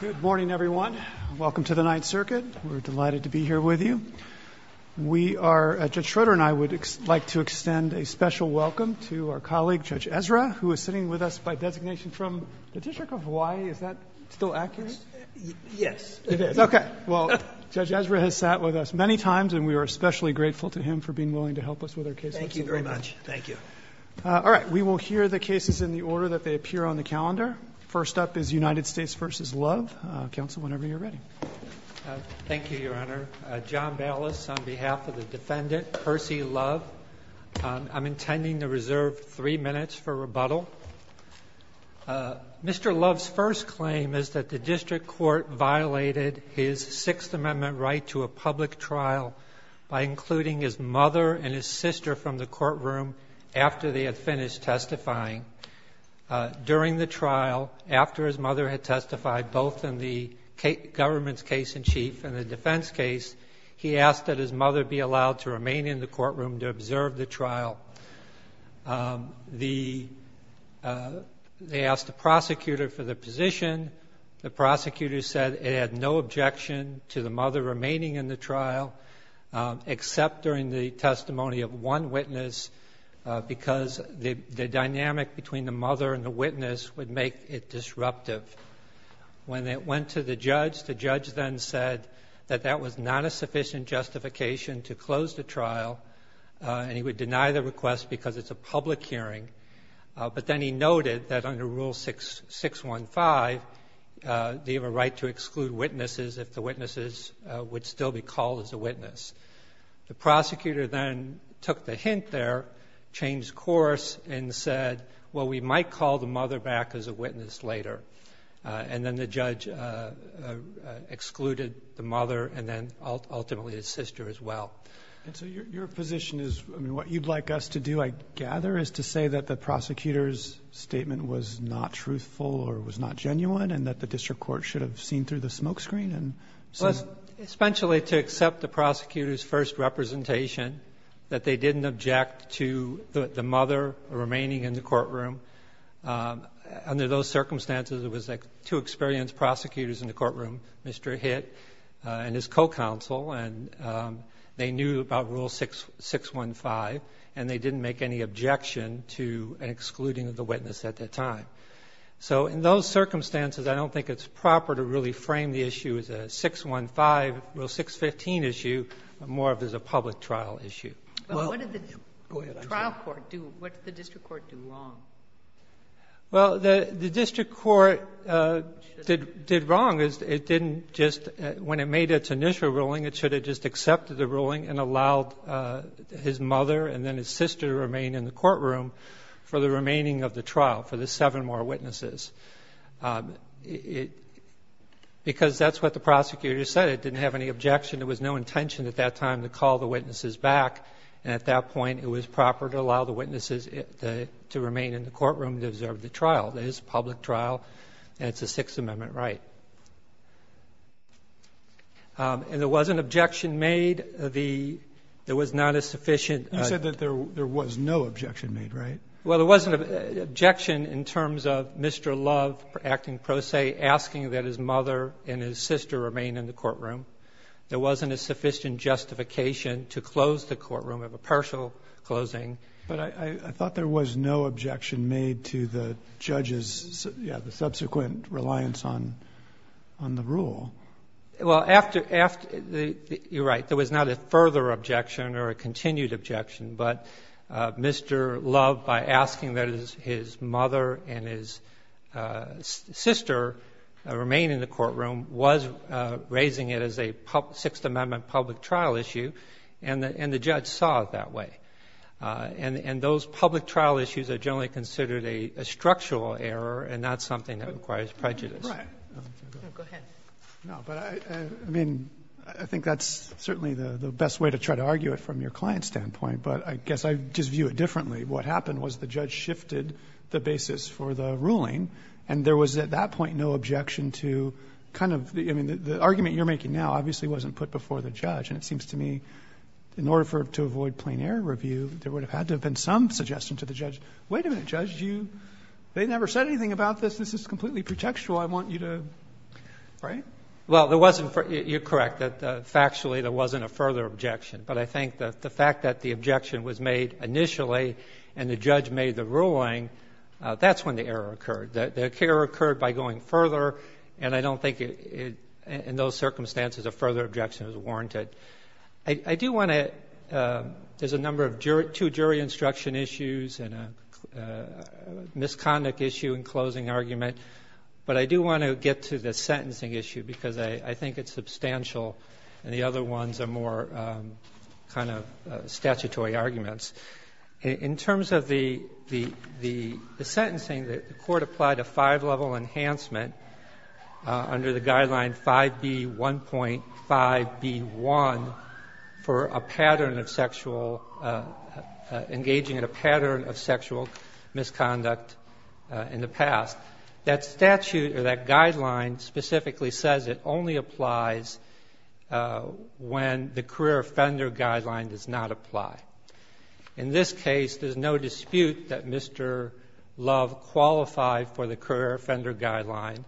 Good morning everyone. Welcome to the Ninth Circuit. We're delighted to be here with you. We are, Judge Schroeder and I, would like to extend a special welcome to our colleague Judge Ezra, who is sitting with us by designation from the District of Hawaii. Is that still accurate? Yes, it is. Okay, well Judge Ezra has sat with us many times and we are especially grateful to him for being willing to help us with our case. Thank you very much. Thank you. All right, we will hear the cases in the order that they appear on the calendar. First up is United States v. Love. Counsel, whenever you're ready. Thank you, Your Honor. John Ballas on behalf of the defendant, Percy Love. I'm intending to reserve three minutes for rebuttal. Mr. Love's first claim is that the district court violated his Sixth Amendment right to a public trial by including his mother and his sister from the courtroom after they had finished testifying. During the trial, after his mother had testified, both in the government's case in chief and the defense case, he asked that his mother be allowed to remain in the courtroom to observe the trial. They asked the prosecutor for the position. The prosecutor said it had no objection to the mother remaining in the trial, except during the testimony of one witness, because the dynamic between the mother and the witness would make it disruptive. When it went to the judge, the judge then said that that was not a sufficient justification to close the trial, and he would deny the request because it's a public hearing. But then he noted that under Rule 615, they have a right to exclude witnesses if the witnesses would still be called as a witness. The prosecutor then took the hint there, changed course, and said, well, we might call the mother back as a witness later. And then the judge excluded the mother and then ultimately his sister as well. And so your position is, I mean, what you'd like us to do, I gather, is to say that the prosecutor's statement was not truthful or was not genuine and that the district court should have seen through the smokescreen and seen the truth? So essentially to accept the prosecutor's first representation, that they didn't object to the mother remaining in the courtroom, under those circumstances it was like two experienced prosecutors in the courtroom, Mr. Hitt and his co-counsel, and they knew about Rule 615, and they didn't make any objection to an excluding of the witness at that time. So in those circumstances, I don't think it's proper to really frame the issue as a 615, Rule 615 issue, more of it as a public trial issue. Well, what did the trial court do? What did the district court do wrong? Well, the district court did wrong is it didn't just — when it made its initial ruling, it should have just accepted the ruling and allowed his mother and then his sister to remain in the courtroom for the remaining of the trial, for the seven more witnesses. It — because that's what the prosecutor said. It didn't have any objection. There was no intention at that time to call the witnesses back, and at that point it was proper to allow the witnesses to remain in the courtroom to observe the trial. It is a public trial, and it's a Sixth Amendment right. And there was an objection made. The — there was not a sufficient — You said that there was no objection made, right? Well, there wasn't an objection in terms of Mr. Love acting pro se, asking that his mother and his sister remain in the courtroom. There wasn't a sufficient justification to close the courtroom, have a partial closing. But I thought there was no objection made to the judge's, yeah, the subsequent reliance on the rule. Well, after — you're right. There was not a further objection or a continued objection. But Mr. Love, by asking that his mother and his sister remain in the courtroom, was raising it as a Sixth Amendment public trial issue, and the judge saw it that way. And those public trial issues are generally considered a structural error and not something that requires prejudice. Go ahead. No, but I — I mean, I think that's certainly the best way to try to argue it from your client's standpoint. But I guess I just view it differently. What happened was the judge shifted the basis for the ruling, and there was at that point no objection to kind of the — I mean, the argument you're making now obviously wasn't put before the judge. And it seems to me, in order for — to avoid plain error review, there would have had to have been some suggestion to the judge, wait a minute, Judge, you — they never said anything about this. This is completely pretextual. I want you to — right? Well, there wasn't — you're correct that factually there wasn't a further objection. But I think that the fact that the objection was made initially and the judge made the ruling, that's when the error occurred. The error occurred by going further, and I don't think it — in those circumstances, a further objection is warranted. I do want to — there's a number of jury — two jury instruction issues and a misconduct issue in closing argument. But I do want to get to the sentencing issue, because I think it's substantial and the other ones are more kind of statutory arguments. In terms of the sentencing, the Court applied a five-level enhancement under the Guideline 5B1.5b1 for a pattern of sexual — engaging in a pattern of sexual misconduct in the past. That statute or that guideline specifically says it only applies when the career offender guideline does not apply. In this case, there's no dispute that Mr. Love qualified for the career offender guideline.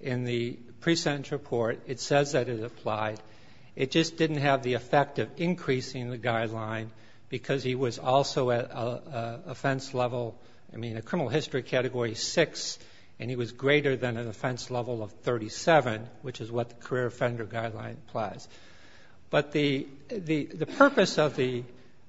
In the pre-sentence report, it says that it applied. It just didn't have the effect of increasing the guideline, because he was also at offense level — I mean, a criminal history Category 6, and he was greater than an offense level of 37, which is what the career offender guideline applies. But the purpose of the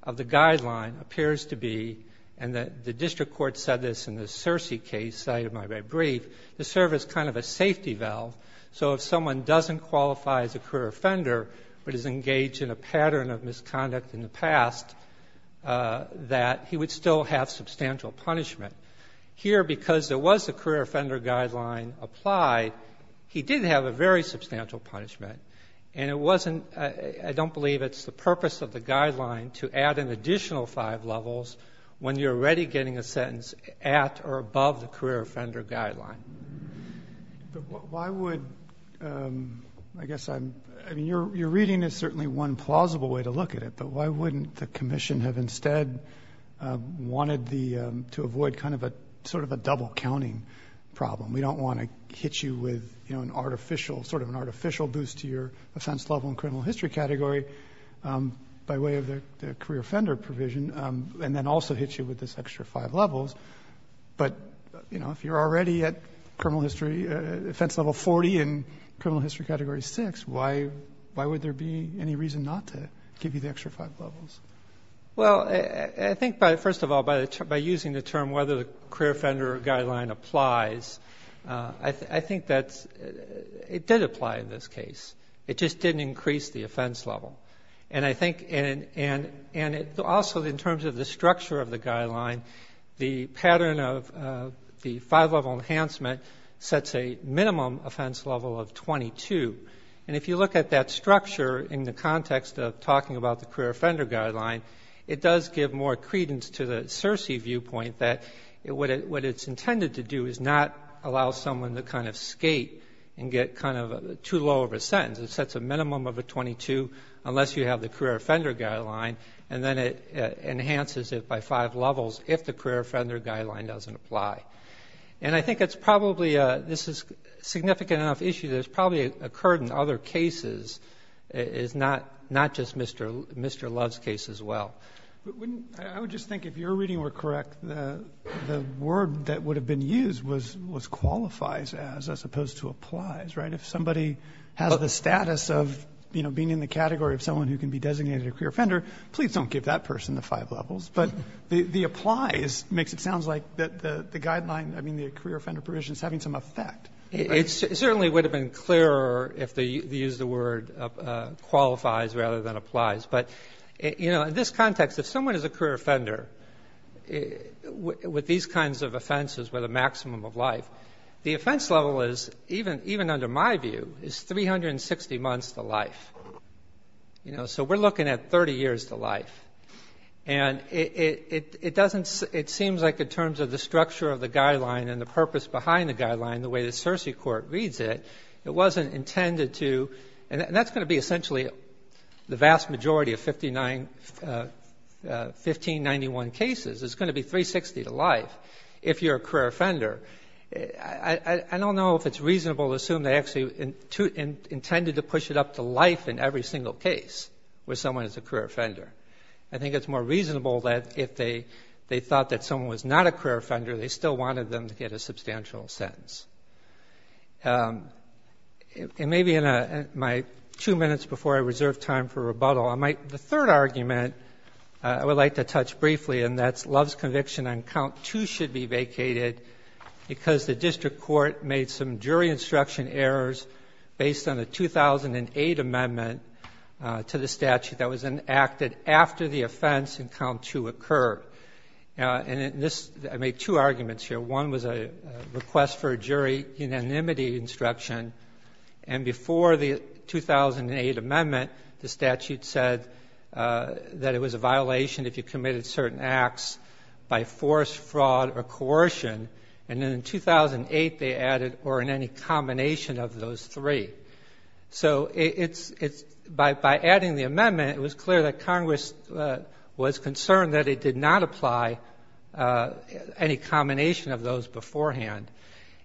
guideline appears to be — and the district court said this in the Searcy case, as I said in my brief — to serve as kind of a safety valve. So if someone doesn't qualify as a career offender but is engaged in a pattern of misconduct in the past, that he would still have substantial punishment. Here, because there was a career offender guideline applied, he did have a very substantial punishment. And it wasn't — I don't believe it's the purpose of the guideline to add an additional five levels when you're already getting a sentence at or above the career offender guideline. But why would — I guess I'm — I mean, your reading is certainly one plausible way to look at it. But why wouldn't the commission have instead wanted the — to avoid kind of a — sort of a double-counting problem? We don't want to hit you with, you know, an artificial — sort of an artificial boost to your offense level and criminal history category by way of the career offender provision, and then also hit you with this extra five levels. But you know, if you're already at criminal history — offense level 40 and criminal history category 6, why would there be any reason not to give you the extra five levels? Well, I think by — first of all, by using the term whether the career offender guideline applies, I think that's — it did apply in this case. It just didn't increase the offense level. And I think — and also in terms of the structure of the guideline, the pattern of the five-level enhancement sets a minimum offense level of 22. And if you look at that structure in the context of talking about the career offender guideline, it does give more credence to the CERCI viewpoint that what it's intended to do is not allow someone to kind of skate and get kind of too low of a sentence. It sets a minimum of a 22 unless you have the career offender guideline, and then it enhances it by five levels if the career offender guideline doesn't apply. And I think it's probably a — this is a significant enough issue that it's probably occurred in other cases, it's not — not just Mr. — Mr. Love's case as well. But wouldn't — I would just think if your reading were correct, the word that would have been used was qualifies as as opposed to applies, right? If somebody has the status of, you know, being in the category of someone who can be designated a career offender, please don't give that person the five levels. But the applies makes it sound like that the guideline, I mean, the career offender provision is having some effect. It certainly would have been clearer if they used the word qualifies rather than applies. But, you know, in this context, if someone is a career offender with these kinds of offenses with a maximum of life, the offense level is, even — even under my view, is 360 months to life. You know, so we're looking at 30 years to life. And it — it doesn't — it seems like in terms of the structure of the guideline and the purpose behind the guideline, the way the CERCI court reads it, it wasn't intended to — and that's going to be essentially the vast majority of 59 — 1591 cases. It's going to be 360 to life if you're a career offender. I don't know if it's reasonable to assume they actually intended to push it up to life in every single case with someone who's a career offender. I think it's more reasonable that if they — they thought that someone was not a career offender, they still wanted them to get a substantial sentence. And maybe in a — my two minutes before I reserve time for rebuttal, I might — the third argument I would like to touch briefly, and that's Love's conviction on count 2 should be vacated because the district court made some jury instruction errors based on the 2008 amendment to the statute that was enacted after the offense in count 2 occurred. And in this — I made two arguments here. One was a request for a jury unanimity instruction, and before the 2008 amendment, the statute said that it was a violation if you committed certain acts by force, fraud, or negligence, three. So it's — it's — by adding the amendment, it was clear that Congress was concerned that it did not apply any combination of those beforehand.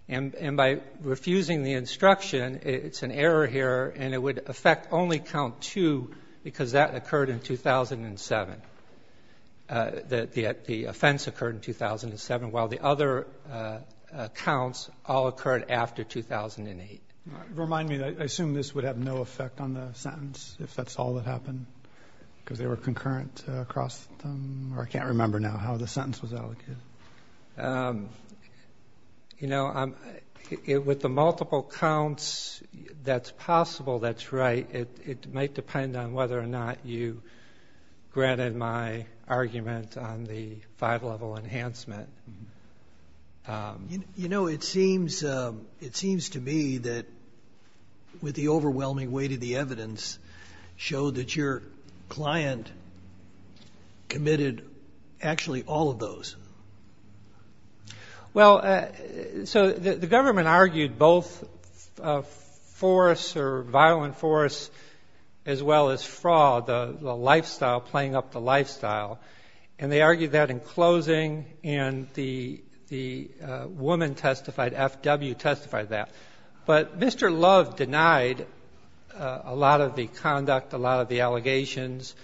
And by refusing the instruction, it's an error here, and it would affect only count 2 because that occurred in 2007, that the offense occurred in 2007, while the other counts all occurred after 2008. Remind me. I assume this would have no effect on the sentence, if that's all that happened, because they were concurrent across the — or I can't remember now how the sentence was allocated. You know, I'm — with the multiple counts, that's possible, that's right. It might depend on whether or not you granted my argument on the five-level enhancement. You know, it seems — it seems to me that with the overwhelming weight of the evidence showed that your client committed actually all of those. Well, so the government argued both force or violent force, as well as fraud, the lifestyle, and they argued that in closing, and the woman testified, F.W., testified that. But Mr. Love denied a lot of the conduct, a lot of the allegations.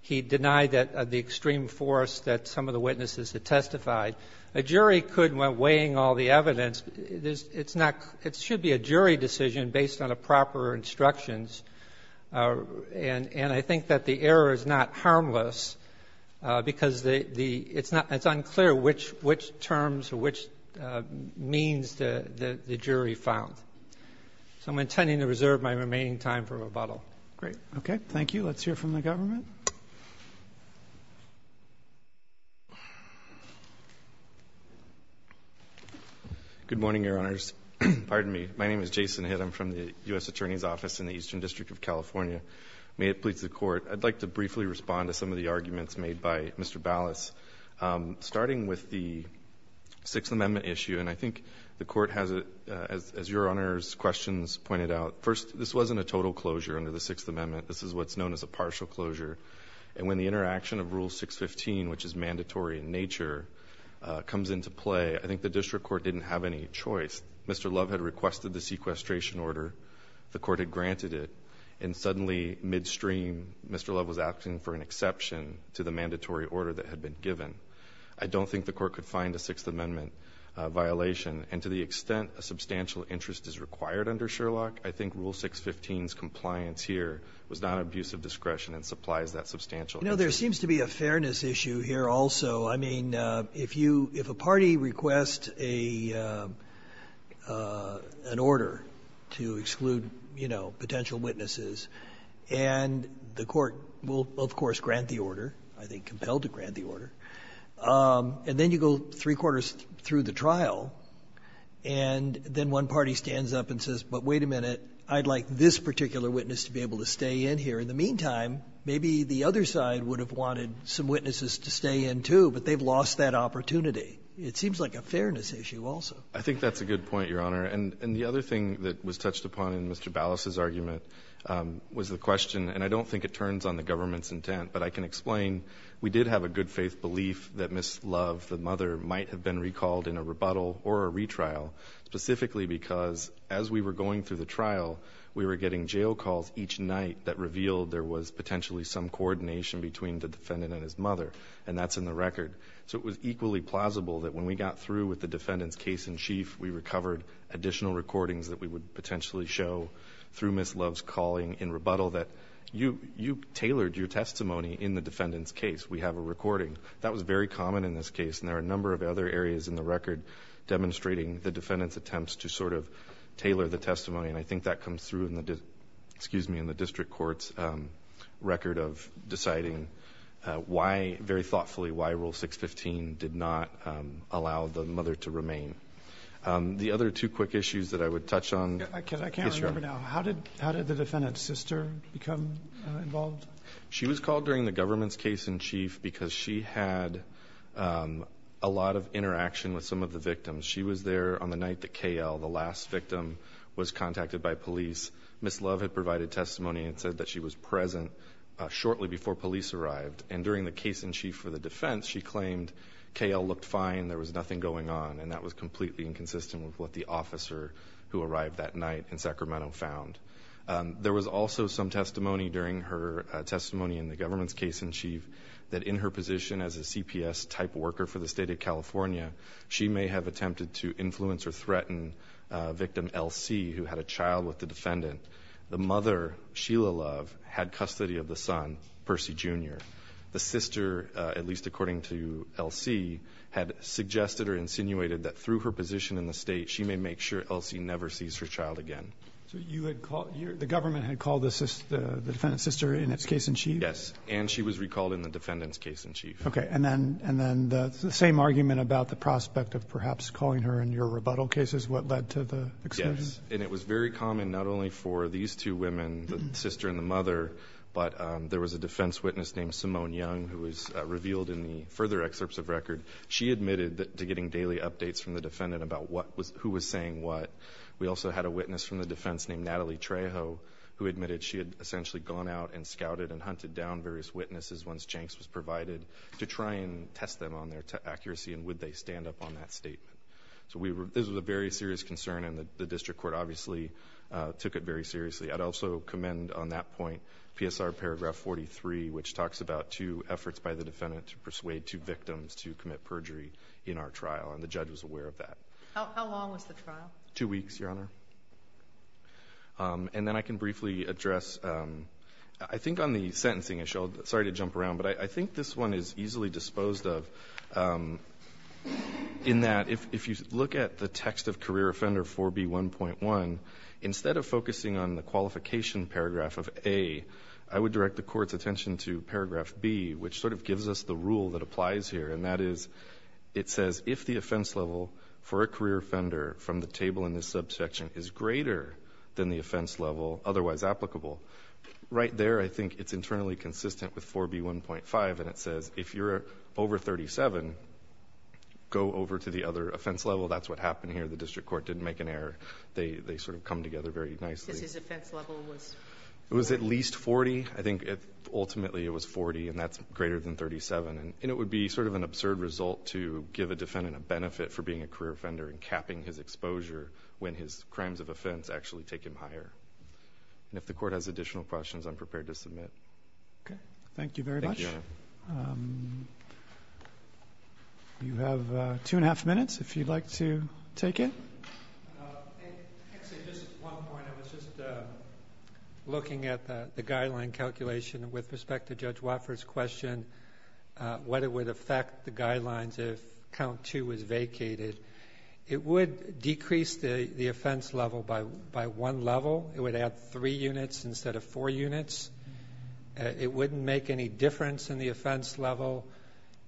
He denied that — the extreme force that some of the witnesses had testified. A jury could, when weighing all the evidence, it's not — it should be a jury decision based on a proper instructions, and I think that the error is not harmless. Because the — it's not — it's unclear which terms or which means the jury found. So I'm intending to reserve my remaining time for rebuttal. Great. Okay. Thank you. Let's hear from the government. Good morning, Your Honors. Pardon me. My name is Jason Hitt. I'm from the U.S. Attorney's Office in the Eastern District of California. May it please the Court, I'd like to briefly respond to some of the arguments made by Mr. Ballas, starting with the Sixth Amendment issue. And I think the Court has, as Your Honors' questions pointed out, first, this wasn't a total closure under the Sixth Amendment. This is what's known as a partial closure. And when the interaction of Rule 615, which is mandatory in nature, comes into play, I think the district court didn't have any choice. Mr. Love had requested the sequestration order. The Court had granted it. And suddenly, midstream, Mr. Love was asking for an exception to the mandatory order that had been given. I don't think the Court could find a Sixth Amendment violation. And to the extent a substantial interest is required under Sherlock, I think Rule 615's compliance here was not an abuse of discretion and supplies that substantial interest. And there seems to be a fairness issue here also. I mean, if you, if a party requests a, an order to exclude, you know, potential witnesses, and the Court will, of course, grant the order, I think compelled to grant the order. And then you go three-quarters through the trial, and then one party stands up and says, but wait a minute, I'd like this particular witness to be able to stay in here. In the meantime, maybe the other side would have wanted some witnesses to stay in, too, but they've lost that opportunity. It seems like a fairness issue also. I think that's a good point, Your Honor. And the other thing that was touched upon in Mr. Ballas' argument was the question, and I don't think it turns on the government's intent, but I can explain. We did have a good-faith belief that Ms. Love, the mother, might have been recalled in a rebuttal or a retrial, specifically because as we were going through the trial, we were getting jail calls each night that revealed there was potentially some coordination between the defendant and his mother, and that's in the record. So it was equally plausible that when we got through with the defendant's case in chief, we recovered additional recordings that we would potentially show through Ms. Love's calling in rebuttal that you, you tailored your testimony in the defendant's case. We have a recording. That was very common in this case, and there are a number of other areas in the record demonstrating the defendant's attempts to sort of tailor the testimony, and I think that comes through in the district court's record of deciding why, very thoughtfully, why Rule 615 did not allow the mother to remain. The other two quick issues that I would touch on. I can't remember now. How did the defendant's sister become involved? She was called during the government's case in chief because she had a lot of interaction with some of the victims. She was there on the night that K.L., the last victim, was contacted by police. Ms. Love had provided testimony and said that she was present shortly before police arrived, and during the case in chief for the defense, she claimed K.L. looked fine, there was nothing going on, and that was completely inconsistent with what the officer who arrived that night in Sacramento found. There was also some testimony during her testimony in the government's case in chief that in her position as a CPS-type worker for the State of California, she may have attempted to influence or threaten victim L.C., who had a child with the defendant. The mother, Sheila Love, had custody of the son, Percy Jr. The sister, at least according to L.C., had suggested or insinuated that through her position in the State, she may make sure L.C. never sees her child again. So the government had called the defendant's sister in its case in chief? Okay. And then the same argument about the prospect of perhaps calling her in your rebuttal cases, what led to the experience? Yes. And it was very common not only for these two women, the sister and the mother, but there was a defense witness named Simone Young, who was revealed in the further excerpts of record. She admitted to getting daily updates from the defendant about who was saying what. We also had a witness from the defense named Natalie Trejo, who admitted she had essentially gone out and scouted and hunted down various witnesses once to try and test them on their accuracy and would they stand up on that statement. So we were – this was a very serious concern, and the district court obviously took it very seriously. I'd also commend on that point PSR paragraph 43, which talks about two efforts by the defendant to persuade two victims to commit perjury in our trial, and the judge was aware of that. How long was the trial? Two weeks, Your Honor. And then I can briefly address – I think on the sentencing issue, sorry to jump around, but I think this one is easily disposed of in that if you look at the text of career offender 4B1.1, instead of focusing on the qualification paragraph of A, I would direct the Court's attention to paragraph B, which sort of gives us the rule that applies here, and that is it says if the offense level for a career offender from the table in this subsection is greater than the offense level, otherwise applicable, right there I think it's internally consistent with 4B1.5, and it says if you're over 37, go over to the other offense level. That's what happened here. The district court didn't make an error. They sort of come together very nicely. Because his offense level was? It was at least 40. I think ultimately it was 40, and that's greater than 37, and it would be sort of an absurd result to give a defendant a benefit for being a career offender and capping his exposure when his crimes of offense actually take him higher. And if the Court has additional questions, I'm prepared to submit. Okay. Thank you very much. Thank you, Your Honor. You have two and a half minutes if you'd like to take it. Actually, just one point. I was just looking at the guideline calculation with respect to Judge Watford's question what it would affect the guidelines if count two was vacated. It would decrease the offense level by one level. It would add three units instead of four units. It wouldn't make any difference in the offense level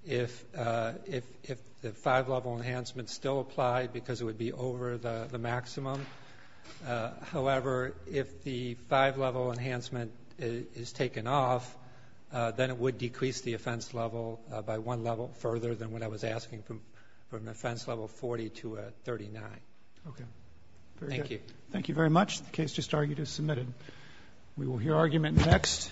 if the five-level enhancement However, if the five-level enhancement is taken off, then it would decrease the offense level by one level further than what I was asking from offense level 40 to 39. Okay. Very good. Thank you. Thank you very much. The case just argued is submitted. We will hear argument next.